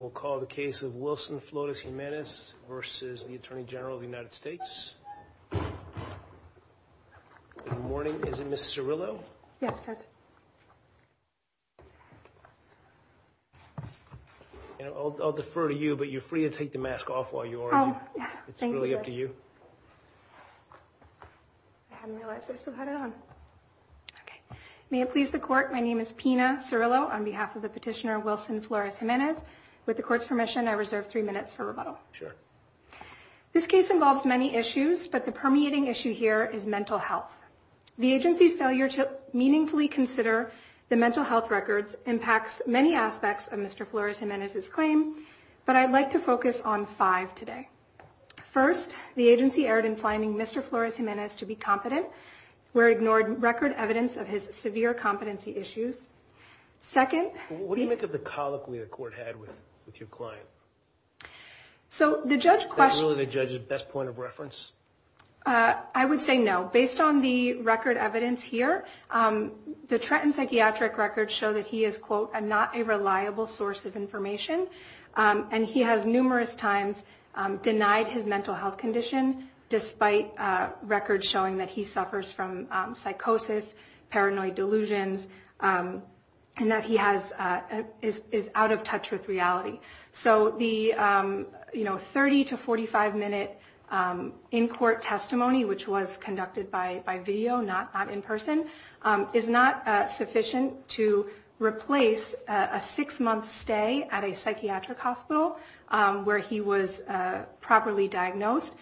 We'll call the case of Wilson-Flores-Jimenez versus the Attorney General of the United States. Good morning. Is it Ms. Cirillo? Yes, Judge. And I'll defer to you, but you're free to take the mask off while you are. It's really up to you. I hadn't realized I still had it on. Okay. May it please the court, my name is Pina Cirillo on behalf of the petitioner Wilson-Flores-Jimenez with the court's permission, I reserve three minutes for rebuttal. Sure. This case involves many issues, but the permeating issue here is mental health. The agency's failure to meaningfully consider the mental health records impacts many aspects of Mr. Flores-Jimenez's claim, but I'd like to focus on five today. First, the agency erred in finding Mr. Flores-Jimenez to be competent, where ignored record evidence of his severe competency issues. Second- What do you make of the colloquy the court had with your client? So the judge- That's really the judge's best point of reference? I would say no. Based on the record evidence here, the Trenton psychiatric records show that he is, quote, a not a reliable source of information. And he has numerous times denied his mental health condition, despite records showing that he suffers from psychosis, paranoid delusions, and that he is out of touch with reality. So the 30 to 45 minute in court testimony, which was conducted by video, not in person, is not sufficient to replace a six month stay at a psychiatric hospital where he was properly diagnosed,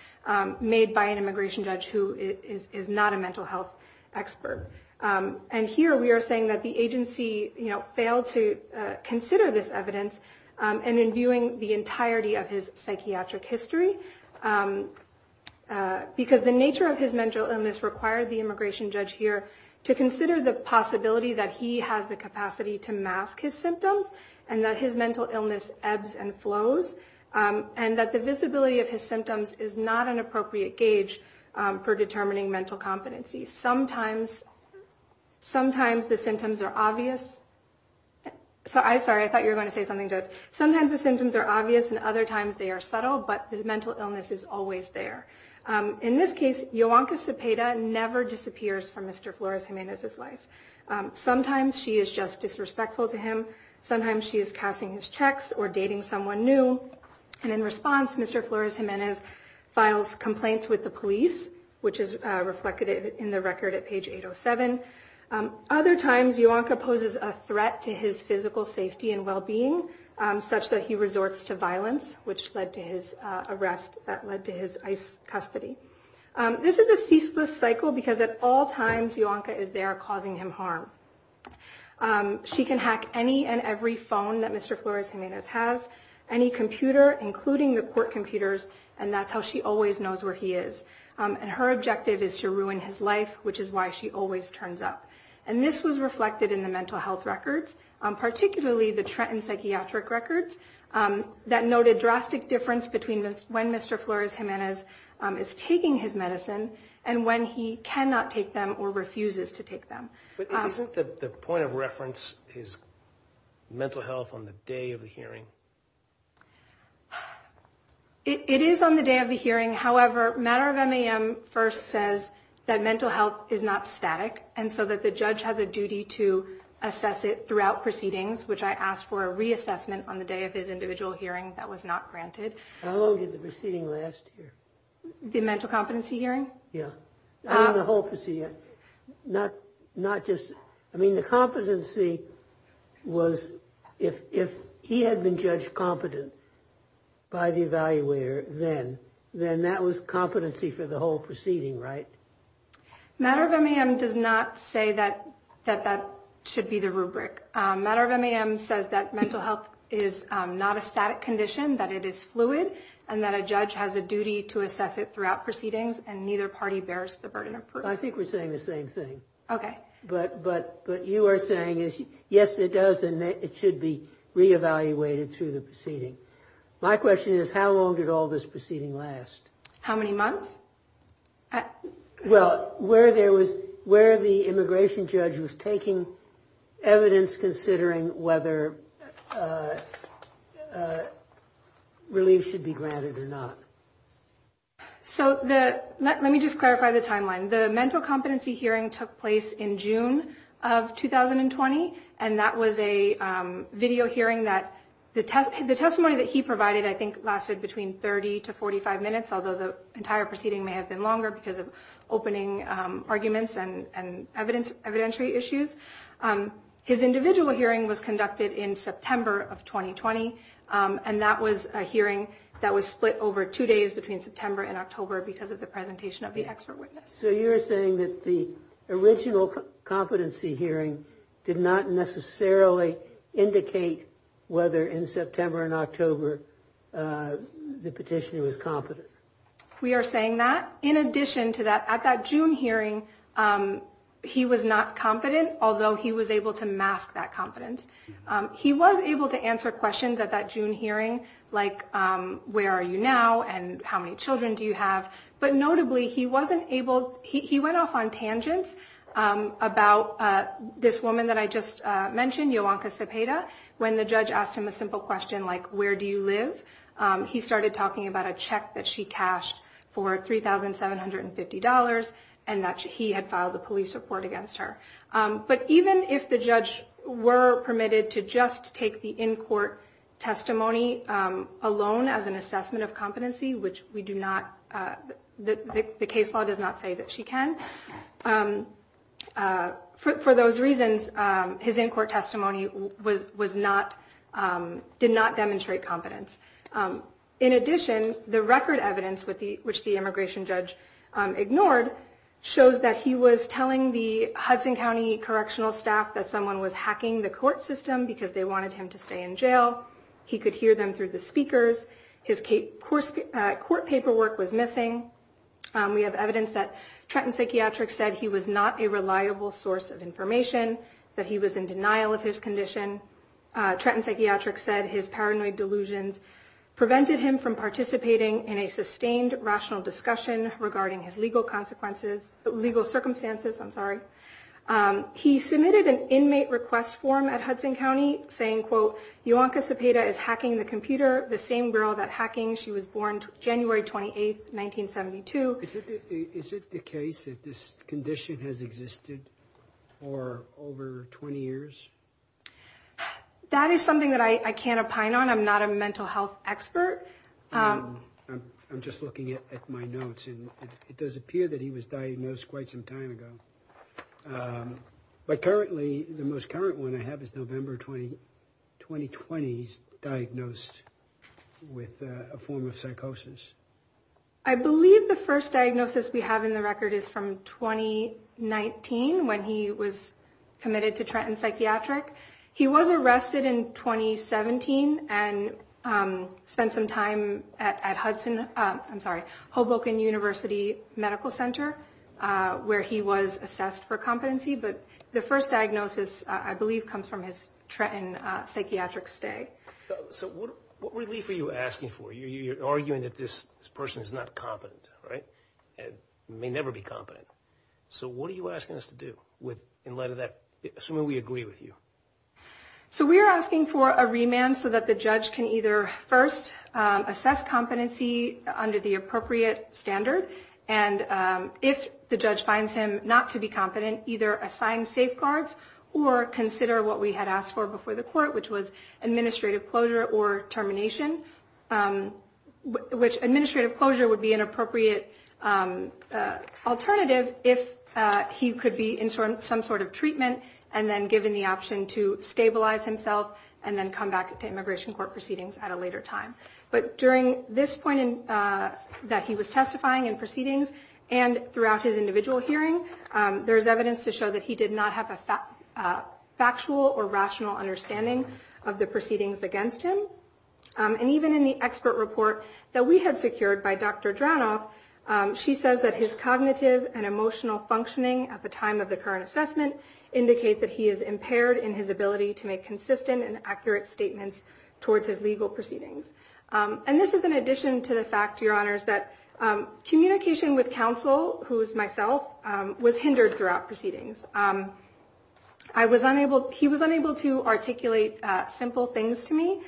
made by an immigration judge who is not a mental health expert. And here we are saying that the agency failed to consider this evidence, and in viewing the entirety of his psychiatric history, because the nature of his mental illness required the immigration judge here to consider the possibility that he has the capacity to mask his symptoms, and that his mental illness ebbs and flows, and that the visibility of his symptoms is not an appropriate gauge for determining mental competency. Sometimes the symptoms are obvious. So I'm sorry, I thought you were going to say something good. Sometimes the symptoms are obvious, and other times they are subtle, but the mental illness is always there. In this case, Yoanka Cepeda never disappears from Mr. Flores-Gimenez's life. Sometimes she is just disrespectful to him. Sometimes she is casting his checks or dating someone new, and in response, Mr. Flores-Gimenez files complaints with the police, which is reflected in the record at page 807. Other times, Yoanka poses a threat to his physical safety and well-being, such that he resorts to which led to his arrest, that led to his ICE custody. This is a ceaseless cycle, because at all times, Yoanka is there causing him harm. She can hack any and every phone that Mr. Flores-Gimenez has, any computer, including the court computers, and that's how she always knows where he is. And her objective is to ruin his life, which is why she always turns up. And this was reflected in the mental health records, particularly the Trenton Psychiatric Records, that noted drastic difference between when Mr. Flores-Gimenez is taking his medicine and when he cannot take them or refuses to take them. But isn't the point of reference his mental health on the day of the hearing? It is on the day of the hearing. However, Matter of MAM first says that mental health is not static, and so that the judge has a duty to assess it throughout proceedings, which I asked for a reassessment on the day of his individual hearing. That was not granted. How long did the proceeding last? The mental competency hearing? Yeah. I mean, the whole procedure, not just... I mean, the competency was, if he had been judged competent by the evaluator then, then that was competency for the whole proceeding, right? Matter of MAM does not say that that should be the rubric. Matter of MAM says that mental health is not a static condition, that it is fluid, and that a judge has a duty to assess it throughout proceedings, and neither party bears the burden of proof. I think we're saying the same thing. Okay. But you are saying, yes, it does, and it should be re-evaluated through the My question is, how long did all this proceeding last? How many months? Well, where the immigration judge was taking evidence considering whether relief should be granted or not. So let me just clarify the timeline. The mental competency hearing took place in June of 2020, and that was a video hearing that... The testimony that he provided, I think, lasted between 30 to 45 minutes, although the entire proceeding may have been longer because of opening arguments and evidentiary issues. His individual hearing was conducted in September of 2020, and that was a hearing that was split over two days between September and October because of the presentation of the expert witness. So you're saying that the original competency hearing did not necessarily indicate whether in September and October the petitioner was competent? We are saying that. In addition to that, at that June hearing, he was not competent, although he was able to mask that competence. He was able to answer questions at that June hearing like, where are you now? And how many children do you have? But notably, he went off on tangents about this woman that I just mentioned, Yowanka Cepeda, when the judge asked him a simple question like, where do you live? He started talking about a check that she cashed for $3,750 and that he had filed a police report against her. But even if the judge were permitted to just take the in-court testimony alone as an assessment of competency, which the case law does not say that she can, for those reasons, his in-court testimony did not demonstrate competence. In addition, the record evidence, which the immigration judge ignored, shows that he was telling the Hudson County correctional staff that someone was hacking the court system because they wanted him to stay in jail. He could hear them through the speakers. His court paperwork was missing. We have evidence that Trenton Psychiatrics said he was not a reliable source of information, that he was in denial of his condition. Trenton Psychiatrics said his paranoid delusions prevented him from participating in a sustained rational discussion regarding his legal consequences, legal circumstances, I'm sorry. He submitted an inmate request form at Hudson County saying, quote, Yowanka Cepeda is hacking the computer, the same girl that hacking she was born January 28, 1972. Is it the case that this condition has existed for over 20 years? That is something that I can't opine on. I'm not a mental health expert. I'm just looking at my notes, and it does appear that he was diagnosed quite some time ago. But currently, the most current one I have is November 2020. He's diagnosed with a form of psychosis. I believe the first diagnosis we have in the record is from 2019, when he was committed to Trenton Psychiatric. He was arrested in 2017 and spent some time at Hudson, I'm sorry, Hoboken University Medical Center, where he was assessed for competency. But the first diagnosis, I believe, comes from his Trenton Psychiatric stay. So what relief are you asking for? You're arguing that this person is not competent, right? And may never be competent. So what are you asking us to do in light of that? Assuming we agree with you. So we are asking for a remand so that the judge can either first assess competency under the appropriate standard. And if the judge finds him not to be competent, either assign safeguards or consider what we had asked for before the court, which was administrative closure or termination, which administrative closure would be an appropriate alternative if he could be in some sort of treatment and then given the option to stabilize himself and then come back to immigration court proceedings at a later time. But during this point that he was testifying in proceedings and throughout his individual hearing, there's evidence to show that he did not have a factual or rational understanding of the proceedings against him. And even in the expert report that we had secured by Dr. Dranoff, she says that his cognitive and emotional functioning at the time of the current assessment indicate that he is impaired in his ability to make consistent and accurate statements towards his legal proceedings. And this is in addition to the fact, Your Honors, that communication with counsel, who is myself, was hindered throughout proceedings. He was unable to articulate simple things to me,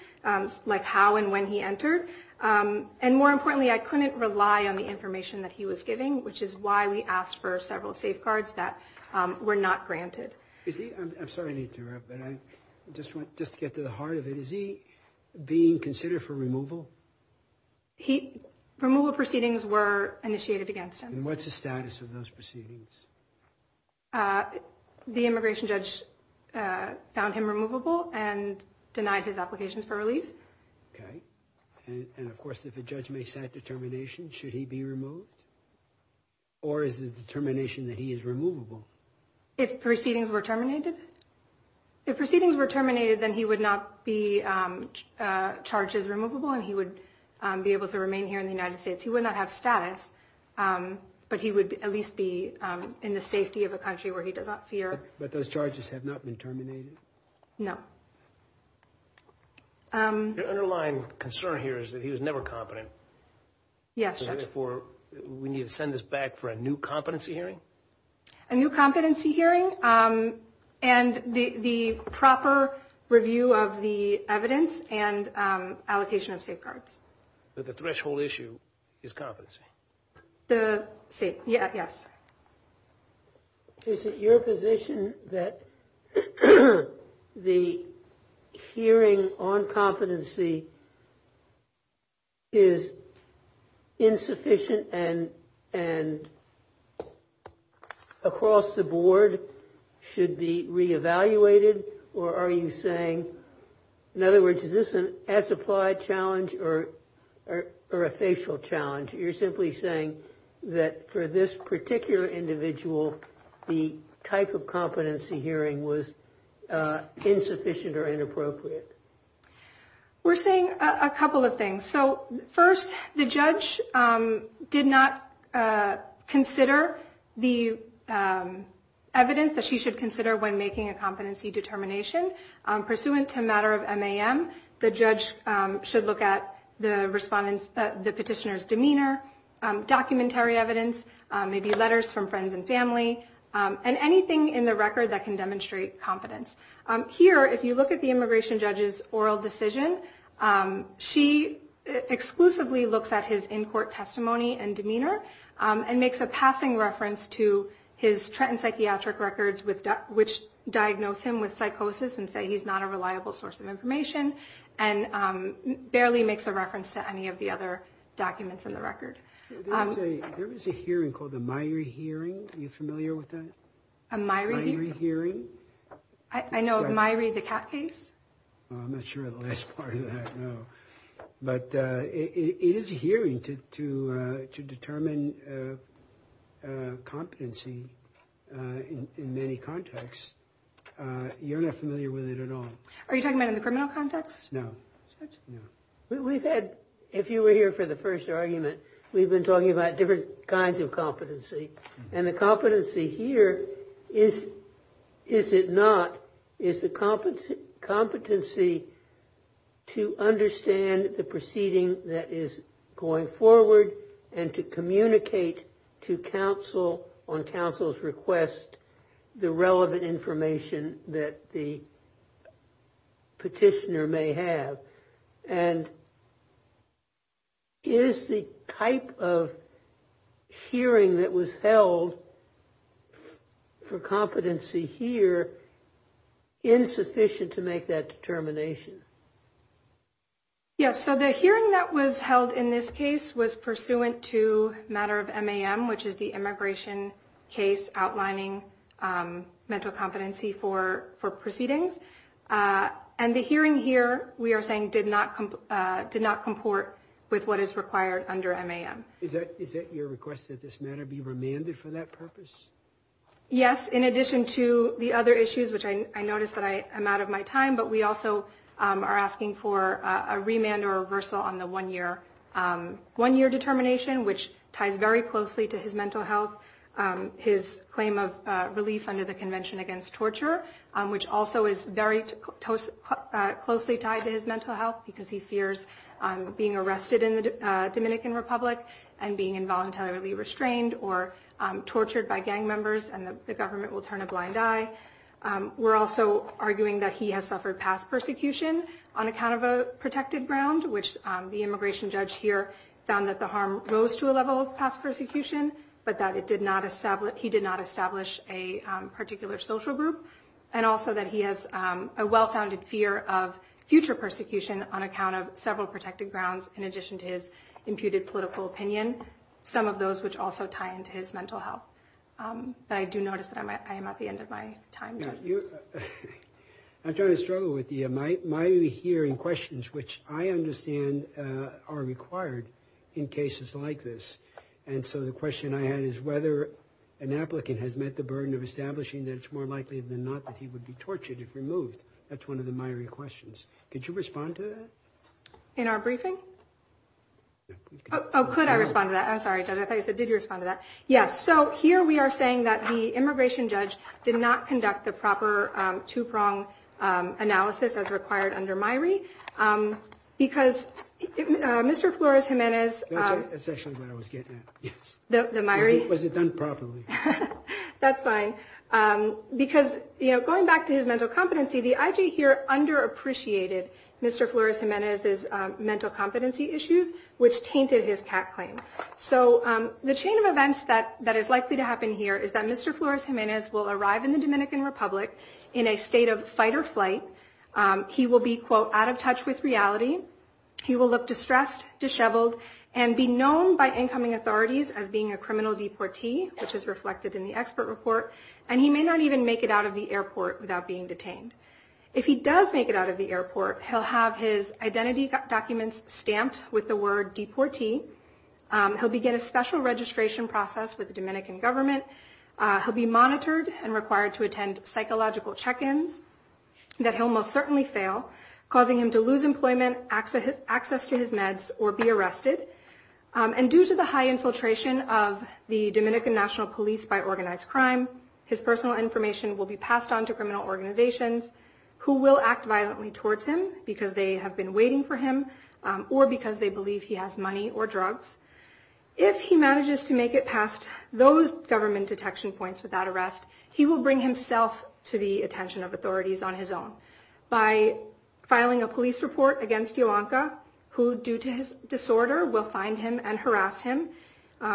like how and when he entered. And more importantly, I couldn't rely on the information that he was giving, which is why we asked for several safeguards that were not granted. I'm sorry to interrupt, but I just want to get to the heart of it. Is he being considered for removal? Removal proceedings were initiated against him. And what's the status of those proceedings? The immigration judge found him removable and denied his applications for relief. Okay. And of course, if a judge makes that determination, should he be removed? Or is the determination that he is removable? If proceedings were terminated? If proceedings were terminated, then he would not be charged as removable and he would be able to remain here in the United States. He would not have status, but he would at least be in the safety of a country where he does not fear. But those charges have not been terminated? No. Your underlying concern here is that he was never competent. Yes, Judge. So therefore, we need to send this back for a new competency hearing? A new competency hearing and the proper review of the evidence and allocation of safeguards. But the threshold issue is competency. See, yes. Is it your position that the hearing on competency is insufficient and across the board should be re-evaluated? Or are you saying, in other words, is this an unsupplied challenge or a facial challenge? You're simply saying that for this particular individual, the type of competency hearing was insufficient or inappropriate? We're saying a couple of things. So first, the judge did not consider the evidence that she should consider when making a competency determination. Pursuant to matter of MAM, the judge should look at the petitioner's demeanor, documentary evidence, maybe letters from friends and family, and anything in the record that can demonstrate competence. Here, if you look at the immigration judge's oral decision, she exclusively looks at his in-court testimony and demeanor and makes a passing reference to his Trenton psychiatric records, which diagnose him with psychosis and say he's not a reliable source of information, and barely makes a reference to any of the other documents in the record. There was a hearing called the Myrie hearing. Are you familiar with that? A Myrie hearing? I know, Myrie, the cat case? I'm not sure of the last part of that. But it is a hearing to determine a competency in many contexts. You're not familiar with it at all? Are you talking about in the criminal context? No. We've had, if you were here for the first argument, we've been talking about different kinds of competency. And the competency here is, is it not, is the competency to understand the proceeding that is going forward and to communicate to counsel on counsel's request the relevant information that the petitioner may have? And is the type of hearing that was held for competency here insufficient to make that determination? Yes. So the hearing that was held in this case was pursuant to matter of MAM, which is the immigration case outlining mental competency for proceedings. And the hearing here, we are saying did not comport with what is required under MAM. Is that your request that this matter be remanded for that purpose? Yes. In addition to the other issues, which I noticed that I am out of my time, but we also are asking for a remand or reversal on the one-year determination, which ties very closely to his mental health, his claim of relief under the Convention Against Torture, which also is very closely tied to his mental health because he fears being arrested in the Dominican Republic and being involuntarily restrained or tortured by gang members and the government will turn a blind eye. We're also arguing that he has suffered past persecution on account of a protected ground, which the immigration judge here found that the harm rose to a level of past persecution, but that he did not establish a particular social group. And also that he has a well-founded fear of future persecution on account of several protected grounds in addition to his imputed political opinion, some of those which also tie into his mental health. But I do notice that I am at the end of my time. I'm trying to struggle with my hearing questions, which I understand are required in cases like this. And so the question I had is whether an applicant has met the burden of establishing that it's more likely than not that he would be tortured if removed. That's one of the myriad questions. Could you respond to that? In our briefing? Oh, could I respond to that? I'm sorry, I thought you said, did you respond to that? Yes. So here we are saying that the immigration judge did not conduct the proper two-prong analysis as required under MIRI because Mr. Flores-Gimenez... That's actually what I was getting at. Yes. The MIRI? Was it done properly? That's fine. Because going back to his mental competency, the IG here under-appreciated Mr. Flores-Gimenez's mental competency issues, which tainted his CAT claim. So the chain of events that is likely to happen here is that Mr. Flores-Gimenez will arrive in the Dominican Republic in a state of fight or flight. He will be, quote, out of touch with reality. He will look distressed, disheveled, and be known by incoming authorities as being a criminal deportee, which is reflected in the expert report. And he may not even make it out of the detained. If he does make it out of the airport, he'll have his identity documents stamped with the word deportee. He'll begin a special registration process with the Dominican government. He'll be monitored and required to attend psychological check-ins that he'll most certainly fail, causing him to lose employment, access to his meds, or be arrested. And due to the high infiltration of the Dominican National Police by organized crime, his personal information will be passed on to criminal organizations who will act violently towards him because they have been waiting for him or because they believe he has money or drugs. If he manages to make it past those government detection points without arrest, he will bring himself to the attention of authorities on his own by filing a police report against Yolanda, who due to his disorder will find him and harass him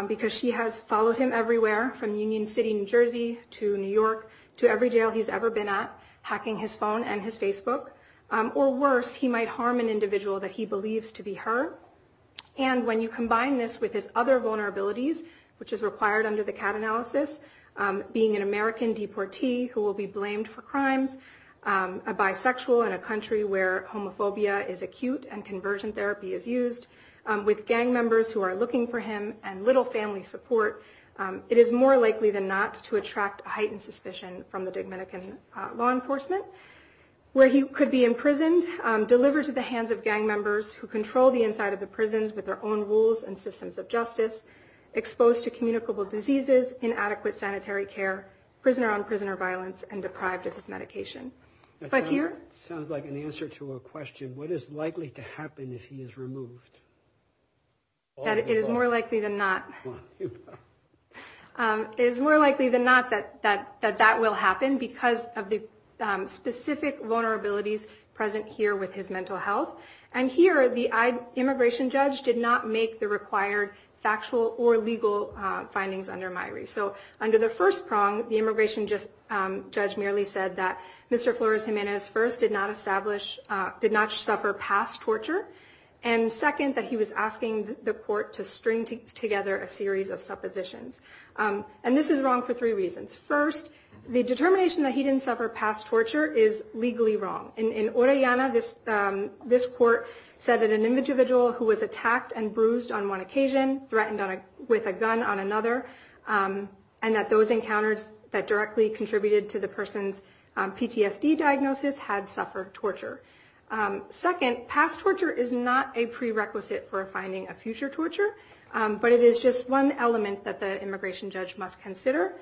because she has followed him everywhere from Union City, New Jersey to New York to every jail he's ever been at, hacking his phone and his Facebook. Or worse, he might harm an individual that he believes to be her. And when you combine this with his other vulnerabilities, which is required under the CAT analysis, being an American deportee who will be blamed for crimes, a bisexual in a country where homophobia is acute and conversion therapy is used, with gang members who are looking for him and little family support, it is more likely than not to attract heightened suspicion from the Dominican law enforcement, where he could be imprisoned, delivered to the hands of gang members who control the inside of the prisons with their own rules and systems of justice, exposed to communicable diseases, inadequate sanitary care, prisoner-on-prisoner violence, and deprived of his medication. But here... Sounds like an answer to a question, what is likely to happen if he is removed? That it is more likely than not... It is more likely than not that that will happen because of the specific vulnerabilities present here with his mental health. And here, the immigration judge did not make the required factual or legal findings under MIRI. So under the first prong, the immigration judge merely said that Mr. Flores Jimenez, first, did not suffer past torture, and second, that he was asking the court to string together a series of suppositions. And this is wrong for three reasons. First, the determination that he didn't suffer past torture is legally wrong. In Orellana, this court said that an individual who was attacked and bruised on one occasion, threatened with a gun on another, and that those encounters that directly contributed to the person's PTSD diagnosis had suffered torture. Second, past torture is not a prerequisite for finding a future torture, but it is just one element that the immigration judge must consider.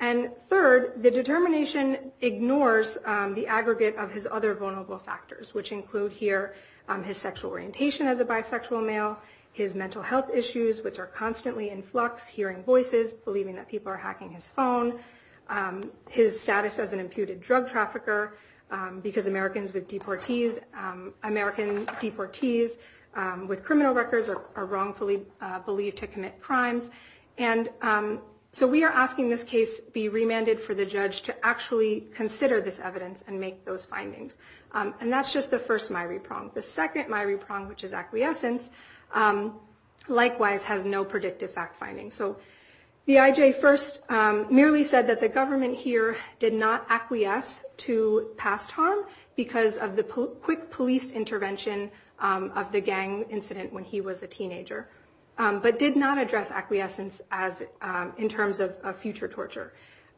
And third, the determination ignores the aggregate of his other vulnerable factors, which include here his sexual orientation as a bisexual male, his mental health issues, which are constantly in flux, hearing voices, believing that people are hacking his phone, his status as an imputed drug trafficker, because Americans with deportees, American deportees with criminal records are wrongfully believed to commit crimes. And so we are asking this case be remanded for the judge to actually consider this evidence and make those findings. And that's just the first MIRI prong. The second MIRI prong, which is acquiescence, likewise has no predictive fact-finding. So the IJ first merely said that the government here did not acquiesce to past harm because of the quick police intervention of the gang incident when he was a teenager, but did not address acquiescence as in terms of future torture.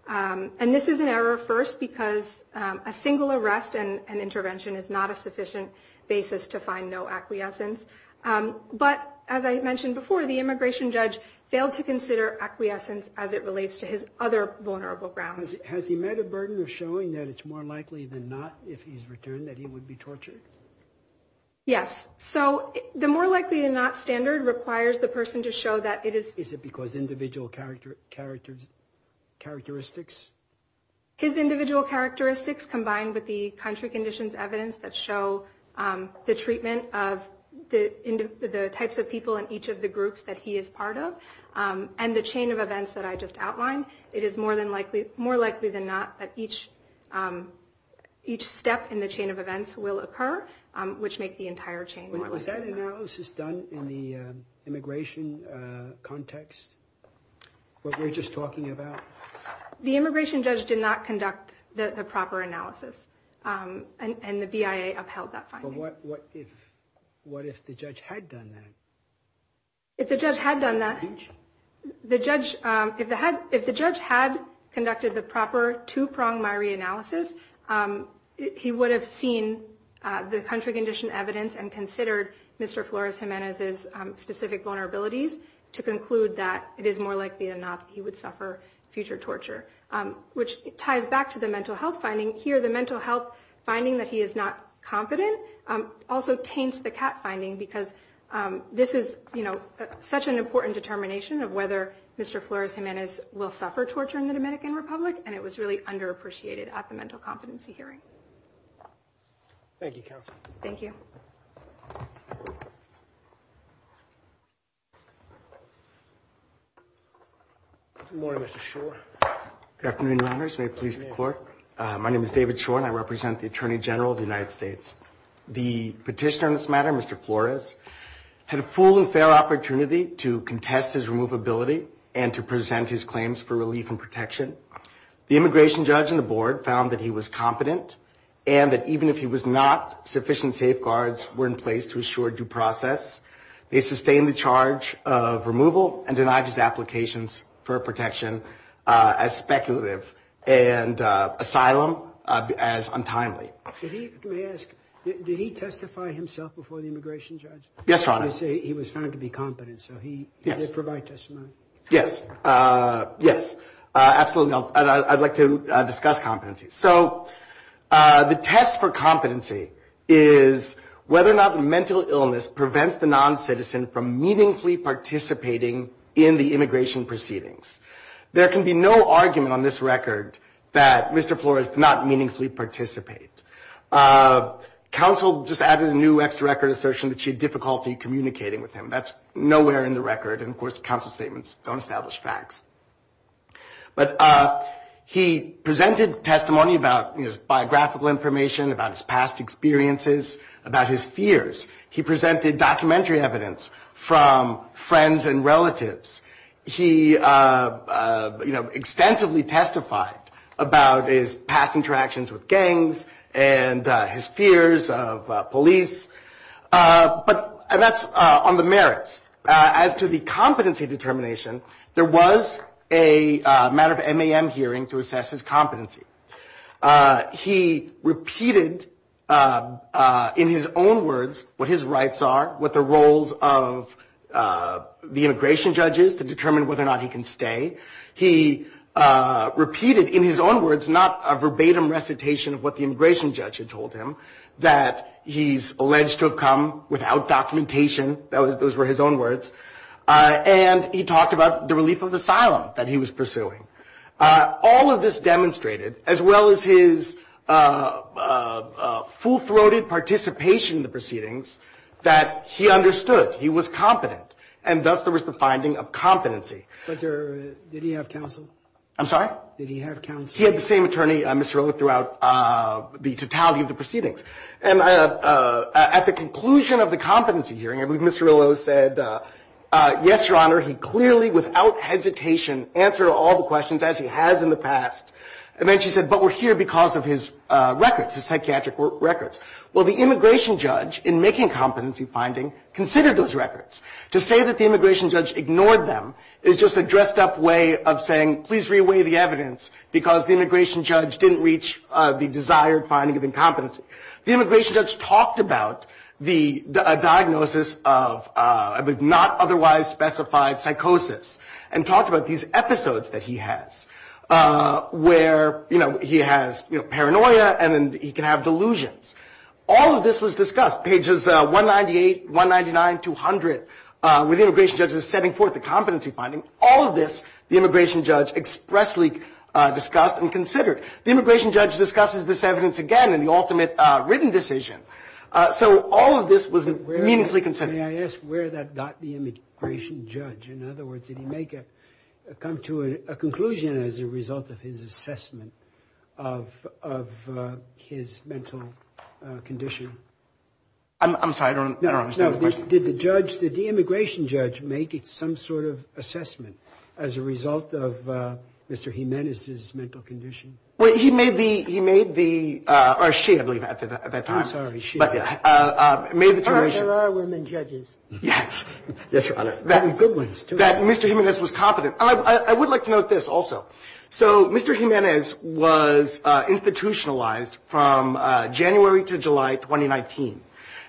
And this is an error first because a single arrest and intervention is not a sufficient basis to find no acquiescence. But as I mentioned before, the immigration judge failed to consider acquiescence as it relates to his other vulnerable grounds. Has he met a burden of showing that it's more likely than not if he's returned that he would be tortured? Yes. So the more likely than not standard requires the person to show that it is. Is it because individual characteristics? His individual characteristics combined with the country conditions evidence that show the treatment of the types of people in each of the groups that he is part of and the chain of events that I just outlined, it is more likely than not that each step in the chain of events will occur, which make the entire chain more likely than not. Was that analysis done in the immigration context, what we're just talking about? The immigration judge did not conduct the proper analysis and the BIA upheld that finding. What if the judge had done that? If the judge had done that, if the judge had conducted the proper two-pronged Myrie analysis, he would have seen the country condition evidence and considered Mr. Flores-Gimenez's specific vulnerabilities to conclude that it is more likely than not he would suffer future torture, which ties back to the mental health finding. Here, the mental health finding that he is not competent also taints the cat finding because this is such an important determination of whether Mr. Flores-Gimenez will suffer torture in the Dominican Republic, and it was really underappreciated at the mental competency hearing. Thank you, counsel. Thank you. Good morning, Mr. Schor. Good afternoon, Your Honors. May it please the Court. My name is David Schor and I represent the Attorney General of the United States. The petitioner in this matter, Mr. Flores, had a full and fair opportunity to contest his removability and to present his claims for relief and protection. The immigration judge and the board found that he was competent and that even if he was not, sufficient safeguards were in place to ensure due process. They sustained the charge of removal and denied his applications for protection as speculative and asylum as untimely. May I ask, did he testify himself before the immigration judge? Yes, Your Honor. He said he was found to be competent, so he did provide testimony. Yes, yes, absolutely. I'd like to discuss competency. So the test for competency is whether or not the mental illness prevents the noncitizen from meaningfully participating in the immigration proceedings. There can be no argument on this record that Mr. Flores did not meaningfully participate. Counsel just added a new extra record assertion that she had difficulty communicating with him. That's nowhere in the record, and of course, counsel statements don't establish facts. But he presented testimony about his biographical information, about his past experiences, about his fears. He presented documentary evidence from friends and relatives. He, you know, extensively testified about his past interactions with gangs and his fears of police. But that's on the merits. As to the competency determination, there was a matter of MAM hearing to assess his competency. He repeated in his own words what his rights are, what the roles of the immigration judge is to determine whether or not he can stay. He repeated in his own words not a verbatim recitation of what the immigration judge had told him, that he's alleged to have come without documentation. Those were his own words. And he talked about the relief of asylum that he was pursuing. All of this demonstrated, as well as his full-throated participation in the proceedings, that he understood. He was competent. And thus there was the finding of competency. Did he have counsel? I'm sorry? Did he have counsel? He had the same attorney, Mr. Rillo, throughout the totality of the proceedings. And at the conclusion of the competency hearing, I believe Mr. Rillo said, yes, Your Honor, he clearly, without hesitation, answered all the questions, as he has in the past. And then she said, but we're here because of his records, his psychiatric records. Well, the immigration judge, in making competency finding, considered those records. To say that the immigration judge ignored them is just a dressed-up way of saying, please re-weigh the evidence, because the immigration judge didn't reach the desired finding of incompetency. The immigration judge talked about the diagnosis of not otherwise specified psychosis, and talked about these episodes that he has, where he has paranoia and he can have delusions. All of this was discussed, pages 198, 199, 200, with immigration judges setting forth the competency finding. All of this, the immigration judge expressly discussed and The immigration judge discusses this evidence again in the ultimate written decision. So all of this was meaningfully considered. May I ask where that got the immigration judge? In other words, did he make a come to a conclusion as a result of his assessment of his mental condition? I'm sorry, I don't understand the question. Did the judge, did the immigration judge make some sort of assessment as a result of Mr. Jimenez's mental condition? Well, he made the, he made the, or she, I believe, at that time. I'm sorry, she. But made the determination. There are women judges. Yes. Yes, Your Honor. And good ones, too. That Mr. Jimenez was competent. I would like to note this also. So Mr. Jimenez was institutionalized from January to July 2019.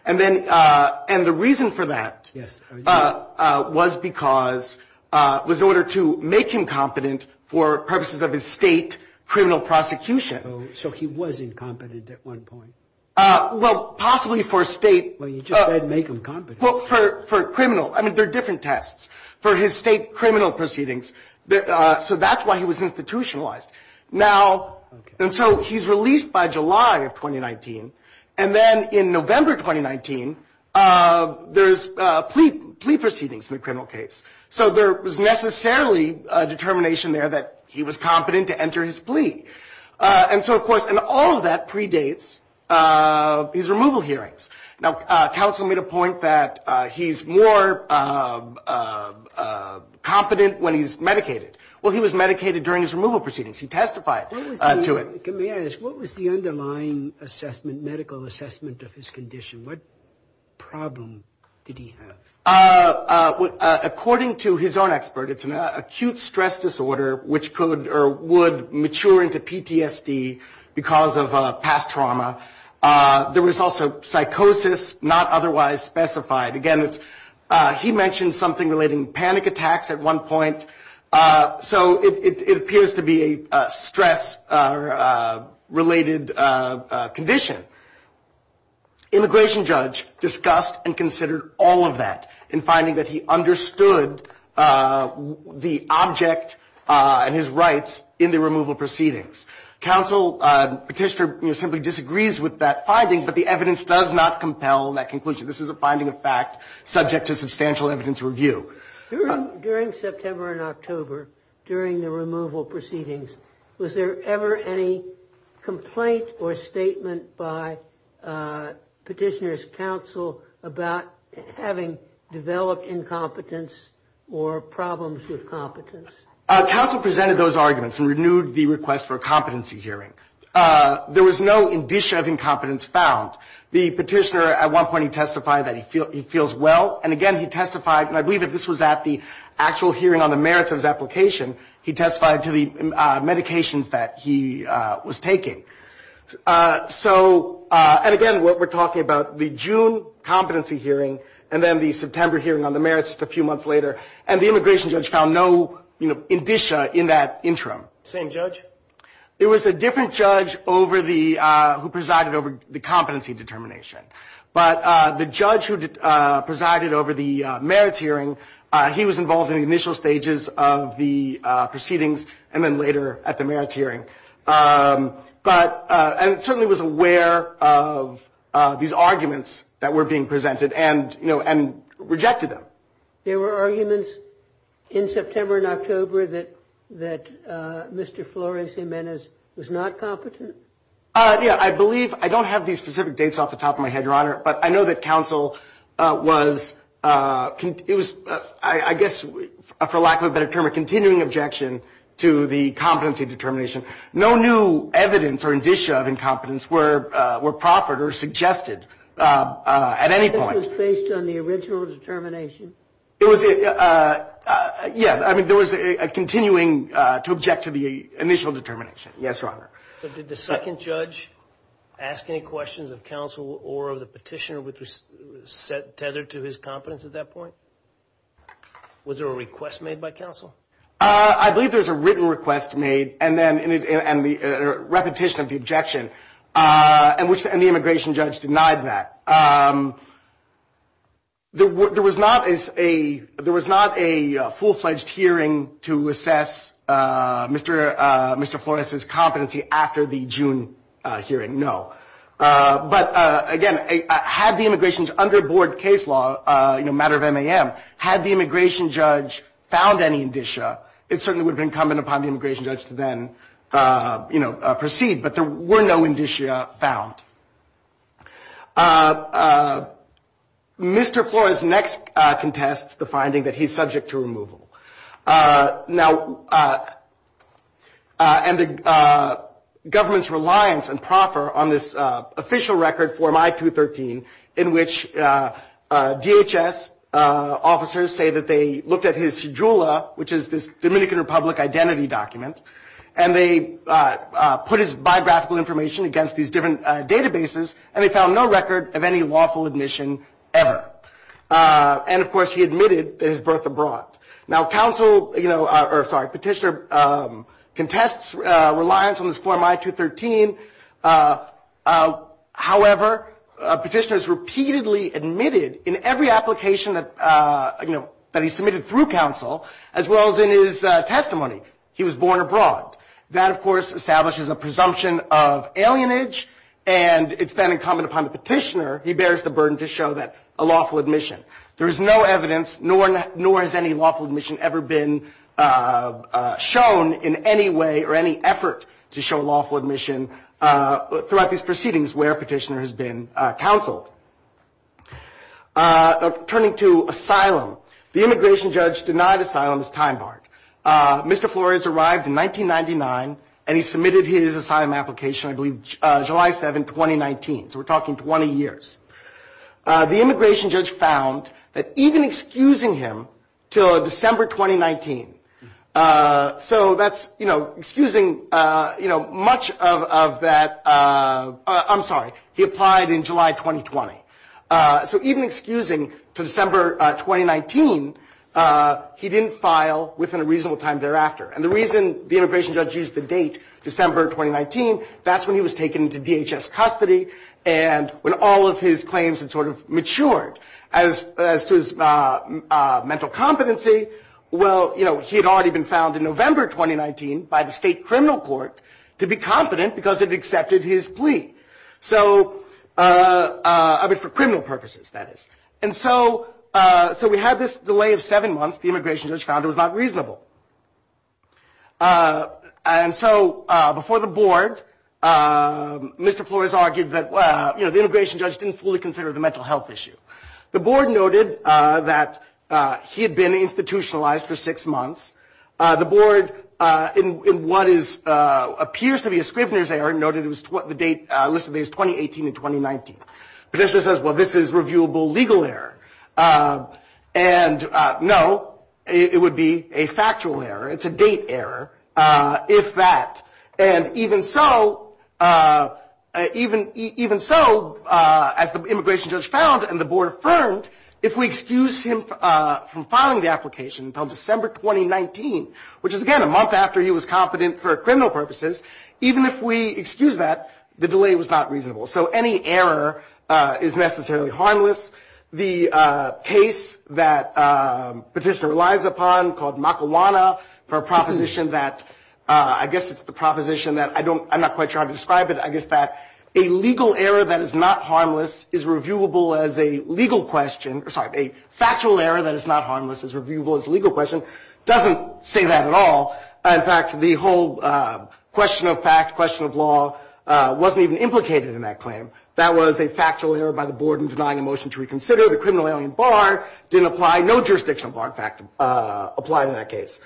And then, and the reason for that. Yes. Was because, was in order to make him competent for purposes of his state criminal prosecution. So he was incompetent at one point. Well, possibly for state. Well, you just didn't make him competent. For criminal. I mean, there are different tests for his state criminal proceedings. So that's why he was institutionalized. Now, and so he's released by July of 2019. And then in November 2019, there's plea proceedings in the criminal case. So there was necessarily a determination there that he was competent to enter his plea. And so, of course, and all of that predates his removal hearings. Now, counsel made a point that he's more competent when he's medicated. Well, he was medicated during his removal proceedings. He testified to it. May I ask, what was the underlying assessment, medical assessment of his condition? What problem did he have? According to his own expert, it's an acute stress disorder, which could or would mature into PTSD because of past trauma. There was also psychosis, not otherwise specified. Again, he mentioned something relating panic attacks at one point. So it appears to be a stress-related condition. Immigration judge discussed and considered all of that in finding that he understood the object and his rights in the removal proceedings. Counsel petitioner simply disagrees with that finding. But the evidence does not compel that conclusion. This is a finding of fact subject to substantial evidence review. During September and October, during the removal proceedings, was there ever any complaint or statement by petitioner's counsel about having developed incompetence or problems with competence? Counsel presented those arguments and renewed the request for a competency hearing. There was no indicia of incompetence found. The petitioner, at one point, he testified that he feels well. And again, he testified. And I believe that this was at the actual hearing on the merits of his application. He testified to the medications that he was taking. And again, what we're talking about, the June competency hearing and then the September hearing on the merits just a few months later. And the immigration judge found no indicia in that interim. Same judge? There was a different judge who presided over the competency determination. But the judge who presided over the merits hearing, he was involved in the initial stages of the proceedings and then later at the merits hearing. And certainly was aware of these arguments that were being presented and rejected them. There were arguments in September and October that Mr. Flores-Gimenez was not competent? Yeah, I believe. I don't have these specific dates off the top of my head, Your Honor. But I know that counsel was, I guess, for lack of a better term, a continuing objection to the competency determination. No new evidence or indicia of incompetence were proffered or suggested at any point. This was based on the original determination? It was, yeah. I mean, there was a continuing to object to the initial determination. Yes, Your Honor. But did the second judge ask any questions of counsel or of the petitioner which was tethered to his competence at that point? Was there a request made by counsel? I believe there's a written request made and then repetition of the objection. And the immigration judge denied that. There was not a full-fledged hearing to assess Mr. Flores' competency after the June hearing, no. But again, had the immigration judge under board case law, matter of MAM, had the immigration judge found any indicia, it certainly would have been incumbent upon the immigration judge to then proceed. But there were no indicia found. Mr. Flores next contests the finding that he's subject to removal. Now, and the government's reliance and proffer on this official record form I-213 in which DHS officers say that they looked at his cedrula, which is this Dominican Republic identity document, and they put his biographical information against these different databases and they found no record of any lawful admission ever. And of course, he admitted his birth abroad. Now, counsel, you know, or sorry, petitioner contests reliance on this form I-213. However, a petitioner is repeatedly admitted in every application that, you know, that he submitted through counsel as well as in his testimony. He was born abroad. That, of course, establishes a presumption of alienage, and it's been incumbent upon the petitioner, he bears the burden to show that a lawful admission. There is no evidence, nor has any lawful admission ever been shown in any way or any effort to show lawful admission throughout these proceedings where petitioner has been counseled. Turning to asylum, the immigration judge denied asylum as time barred. Mr. Flores arrived in 1999, and he submitted his asylum application, I believe, July 7, 2019. So we're talking 20 years. The immigration judge found that even excusing him till December 2019, so that's, you know, excusing, you know, much of that, I'm sorry, he applied in July 2020. So even excusing to December 2019, he didn't file within a reasonable time thereafter. And the reason the immigration judge used the date December 2019, that's when he was taken into DHS custody. And when all of his claims had sort of matured as to his mental competency, well, you know, he had already been found in November 2019 by the state criminal court to be confident because it accepted his plea. So, I mean, for criminal purposes, that is. And so we had this delay of seven months. The immigration judge found it was not reasonable. And so before the board, Mr. Flores argued that, you know, the immigration judge didn't fully consider the mental health issue. The board noted that he had been institutionalized for six months. The board, in what appears to be a Scrivener's error, noted it was the date listed as 2018 and 2019. Petitioner says, well, this is reviewable legal error. And no, it would be a factual error. It's a date error, if that. And even so, as the immigration judge found and the board affirmed, if we excuse him from filing the application until December 2019, which is, again, a month after he was confident for criminal purposes, even if we excuse that, the delay was not reasonable. So any error is necessarily harmless. The case that Petitioner relies upon, called Makawana, for a proposition that, I guess it's the proposition that, I don't, I'm not quite sure how to describe it, I guess that a legal error that is not harmless is reviewable as a legal question. Sorry, a factual error that is not harmless is reviewable as a legal question. Doesn't say that at all. In fact, the whole question of fact, question of law wasn't even implicated in that claim. That was a factual error by the board in denying a motion to reconsider. The criminal alien bar didn't apply. No jurisdictional bar, in fact, applied in that case.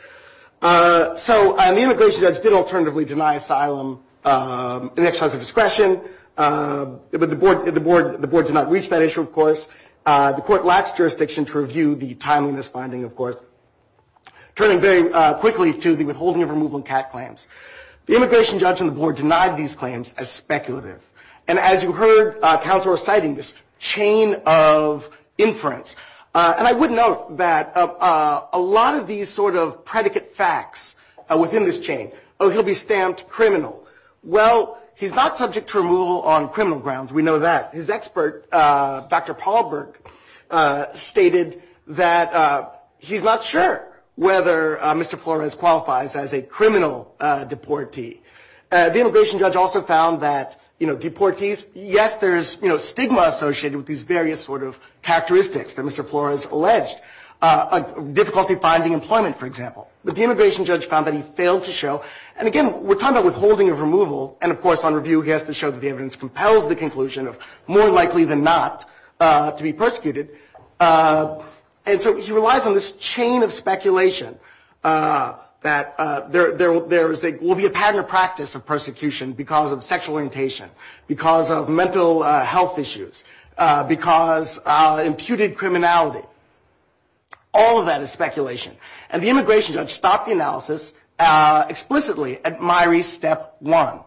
So the immigration judge did alternatively deny asylum an exercise of discretion. But the board did not reach that issue, of course. The court lacks jurisdiction to review the timeliness finding, of course. Turning very quickly to the withholding of removal and CAT claims. The immigration judge and the board denied these claims as speculative. And as you heard, counsel are citing this chain of inference. And I would note that a lot of these sort of predicate facts within this chain. Oh, he'll be stamped criminal. Well, he's not subject to removal on criminal grounds. We know that. His expert, Dr. Paul Berg, stated that he's not sure. Whether Mr. Flores qualifies as a criminal deportee. The immigration judge also found that, you know, deportees. Yes, there's, you know, stigma associated with these various sort of characteristics that Mr. Flores alleged. Difficulty finding employment, for example. But the immigration judge found that he failed to show. And again, we're talking about withholding of removal. And of course, on review, he has to show that the evidence compels the conclusion of more likely than not to be persecuted. And so he relies on this chain of speculation. That there will be a pattern of practice of persecution because of sexual orientation. Because of mental health issues. Because imputed criminality. All of that is speculation. And the immigration judge stopped the analysis explicitly at Mairi's step one.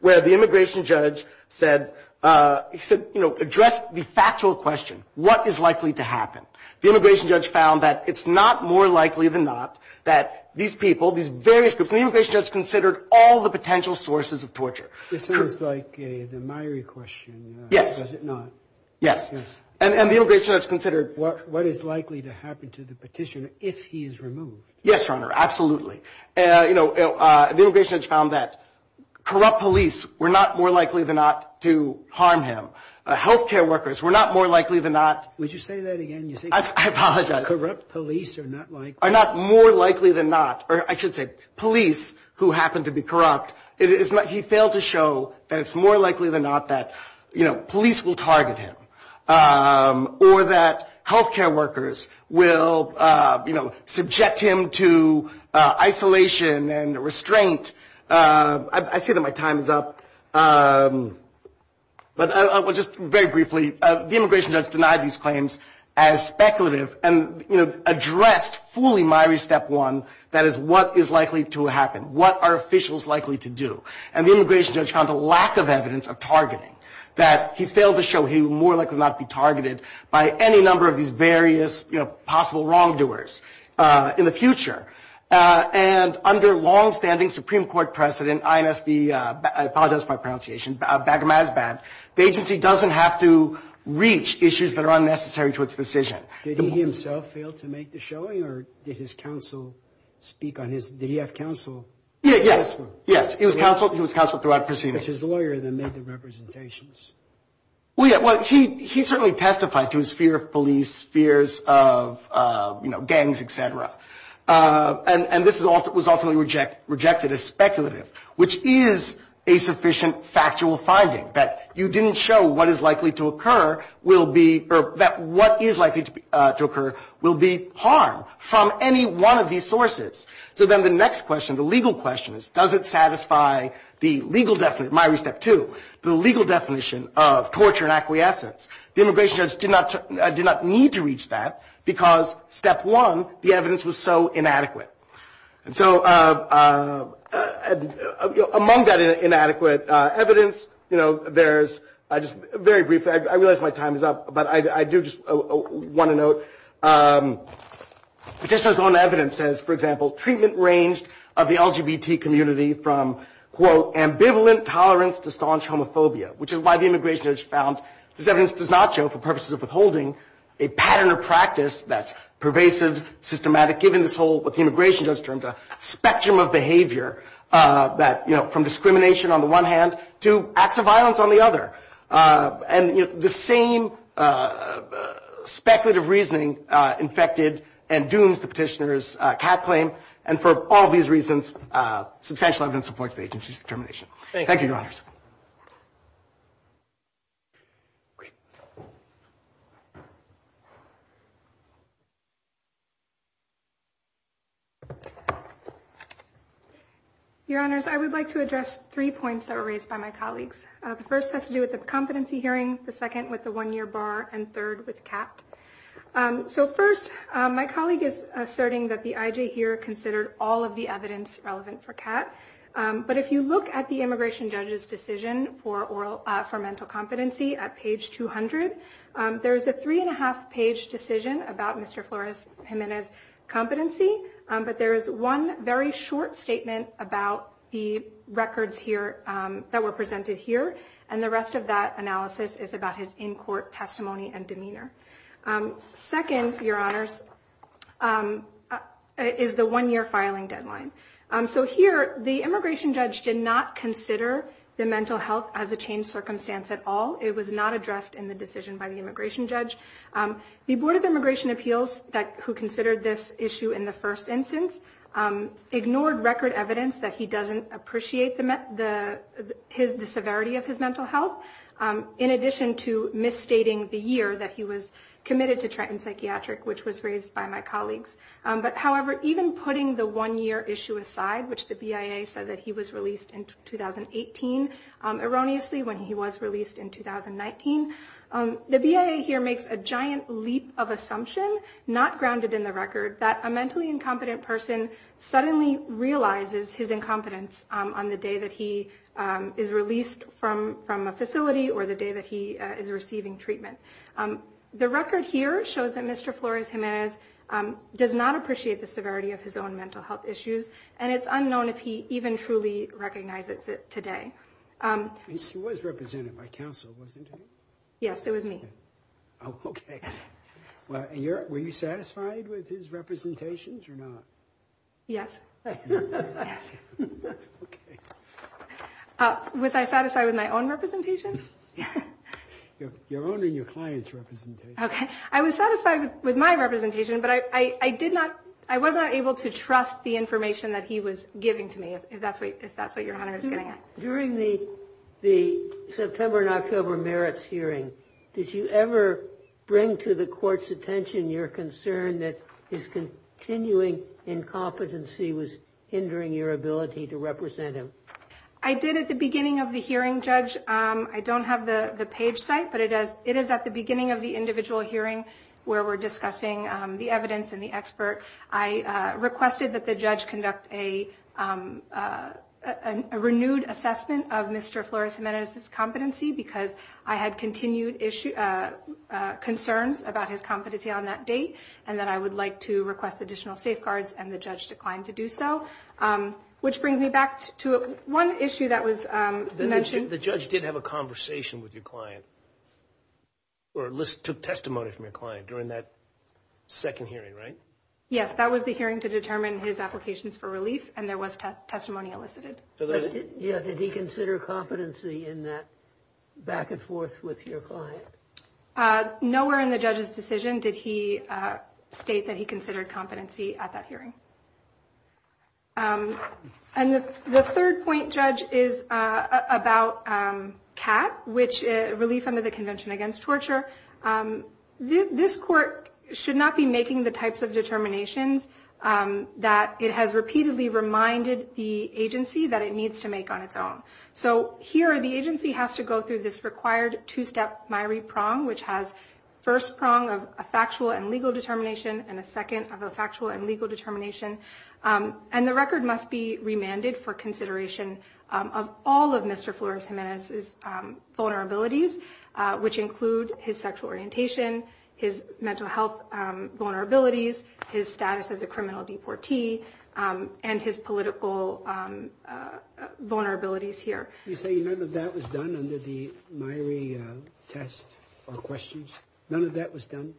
Where the immigration judge said, he said, you know, address the factual question. What is likely to happen? The immigration judge found that it's not more likely than not that these people, these various groups. The immigration judge considered all the potential sources of torture. This is like the Mairi question. Yes. Was it not? Yes. And the immigration judge considered. What is likely to happen to the petitioner if he is removed? Yes, Your Honor, absolutely. You know, the immigration judge found that corrupt police were not more likely than not to harm him. Health care workers were not more likely than not. Would you say that again? I apologize. Corrupt police are not like. Are not more likely than not. Or I should say police who happen to be corrupt. It is not. He failed to show that it's more likely than not that, you know, police will target him. Or that health care workers will, you know, subject him to isolation and restraint. I see that my time is up. But just very briefly, the immigration judge denied these claims as speculative and, you know, addressed fully Mairi step one. That is, what is likely to happen? What are officials likely to do? And the immigration judge found a lack of evidence of targeting that he failed to show he would more likely not be targeted by any number of these various possible wrongdoers in the future. And under longstanding Supreme Court precedent, INSB, I apologize for my pronunciation, Bagramazbat, the agency doesn't have to reach issues that are unnecessary to its decision. Did he himself fail to make the showing? Or did his counsel speak on his? Did he have counsel? Yeah, yes. Yes, he was counseled. He was counseled throughout proceedings. His lawyer then made the representations. Well, yeah, well, he he certainly testified to his fear of police fears of, you know, gangs, etc. And this was ultimately rejected as speculative. Which is a sufficient factual finding that you didn't show what is likely to occur will be or that what is likely to occur will be harm from any one of these sources. So then the next question, the legal question is, does it satisfy the legal definition, Mairi step two, the legal definition of torture and acquiescence? The immigration judge did not need to reach that because step one, the evidence was so inadequate. And so among that inadequate evidence, you know, there's I just very briefly, I realize my time is up, but I do just want to note. Just as on evidence says, for example, treatment ranged of the LGBT community from, quote, ambivalent tolerance to staunch homophobia, which is why the immigration judge found this evidence does not show for purposes of withholding a pattern of practice that's pervasive, systematic, given this whole what the immigration judge termed a spectrum of behavior that, you know, from discrimination on the one hand to acts of violence on the other. And the same speculative reasoning infected and dooms the petitioner's cat claim. And for all these reasons, substantial evidence supports the agency's determination. Thank you, Your Honor. Your Honors, I would like to address three points that were raised by my colleagues. The first has to do with the competency hearing, the second with the one year bar and third with cat. So first, my colleague is asserting that the IJ here considered all of the evidence relevant for cat. But if you look at the immigration judge's decision for oral for mental competency at page 200, there's a three and a half page decision about Mr. Flores Jimenez competency. But there is one very short statement about the records here that were presented here. And the rest of that analysis is about his in court testimony and demeanor. Second, Your Honors, is the one year filing deadline. So here, the immigration judge did not consider the mental health as a changed circumstance at all. It was not addressed in the decision by the immigration judge. The Board of Immigration Appeals, who considered this issue in the first instance, ignored record evidence that he doesn't appreciate the severity of his mental health, in addition to misstating the year that he was committed to Trenton Psychiatric, which was raised by my colleagues. But however, even putting the one year issue aside, which the BIA said that he was released in 2018, erroneously when he was released in 2019, the BIA here makes a giant leap of assumption, not grounded in the record, that a mentally incompetent person suddenly realizes his incompetence on the day that he is released from a facility or the day that he is receiving treatment. The record here shows that Mr. Flores Jimenez does not appreciate the severity of his own mental health issues. And it's unknown if he even truly recognizes it today. He was represented by counsel, wasn't he? Yes, it was me. Oh, okay. Well, were you satisfied with his representations or not? Yes. Was I satisfied with my own representation? Your own and your client's representation. Okay. I was satisfied with my representation, but I was not able to trust the information that he was giving to me, if that's what your honor is getting at. During the September and October merits hearing, did you ever bring to the court's attention your concern that his continuing incompetency was hindering your ability to represent him? I did at the beginning of the hearing, Judge. I don't have the page site, but it is at the beginning of the individual hearing where we're discussing the evidence and the expert. I requested that the judge conduct a renewed assessment of Mr. Flores Jimenez's competency because I had continued concerns about his competency on that date, and that I would like to request additional safeguards, and the judge declined to do so. Which brings me back to one issue that was mentioned. The judge did have a conversation with your client, or took testimony from your client during that second hearing, right? Yes. That was the hearing to determine his applications for relief, and there was testimony elicited. Yeah. Did he consider competency in that back and forth with your client? Nowhere in the judge's decision did he state that he considered competency at that hearing. And the third point, Judge, is about CAT, which is Relief Under the Convention Against Torture. This court should not be making the types of determinations that it has repeatedly reminded the agency that it needs to make on its own. So here, the agency has to go through this required two-step MIRI prong, which has first prong of a factual and legal determination, and a second of a factual and legal determination and the record must be remanded for consideration of all of Mr. Flores Jimenez's vulnerabilities, which include his sexual orientation, his mental health vulnerabilities, his status as a criminal deportee, and his political vulnerabilities here. You say none of that was done under the MIRI test or questions? None of that was done?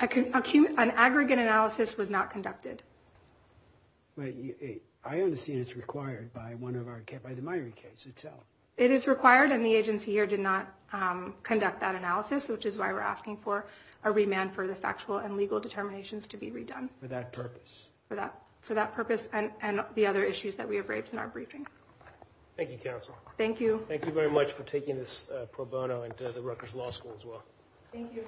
An aggregate analysis was not conducted. But I understand it's required by the MIRI case itself. It is required and the agency here did not conduct that analysis, which is why we're asking for a remand for the factual and legal determinations to be redone. For that purpose. For that purpose and the other issues that we have raised in our briefing. Thank you, counsel. Thank you. Thank you very much for taking this pro bono into the Rutgers Law School as well. Thank you.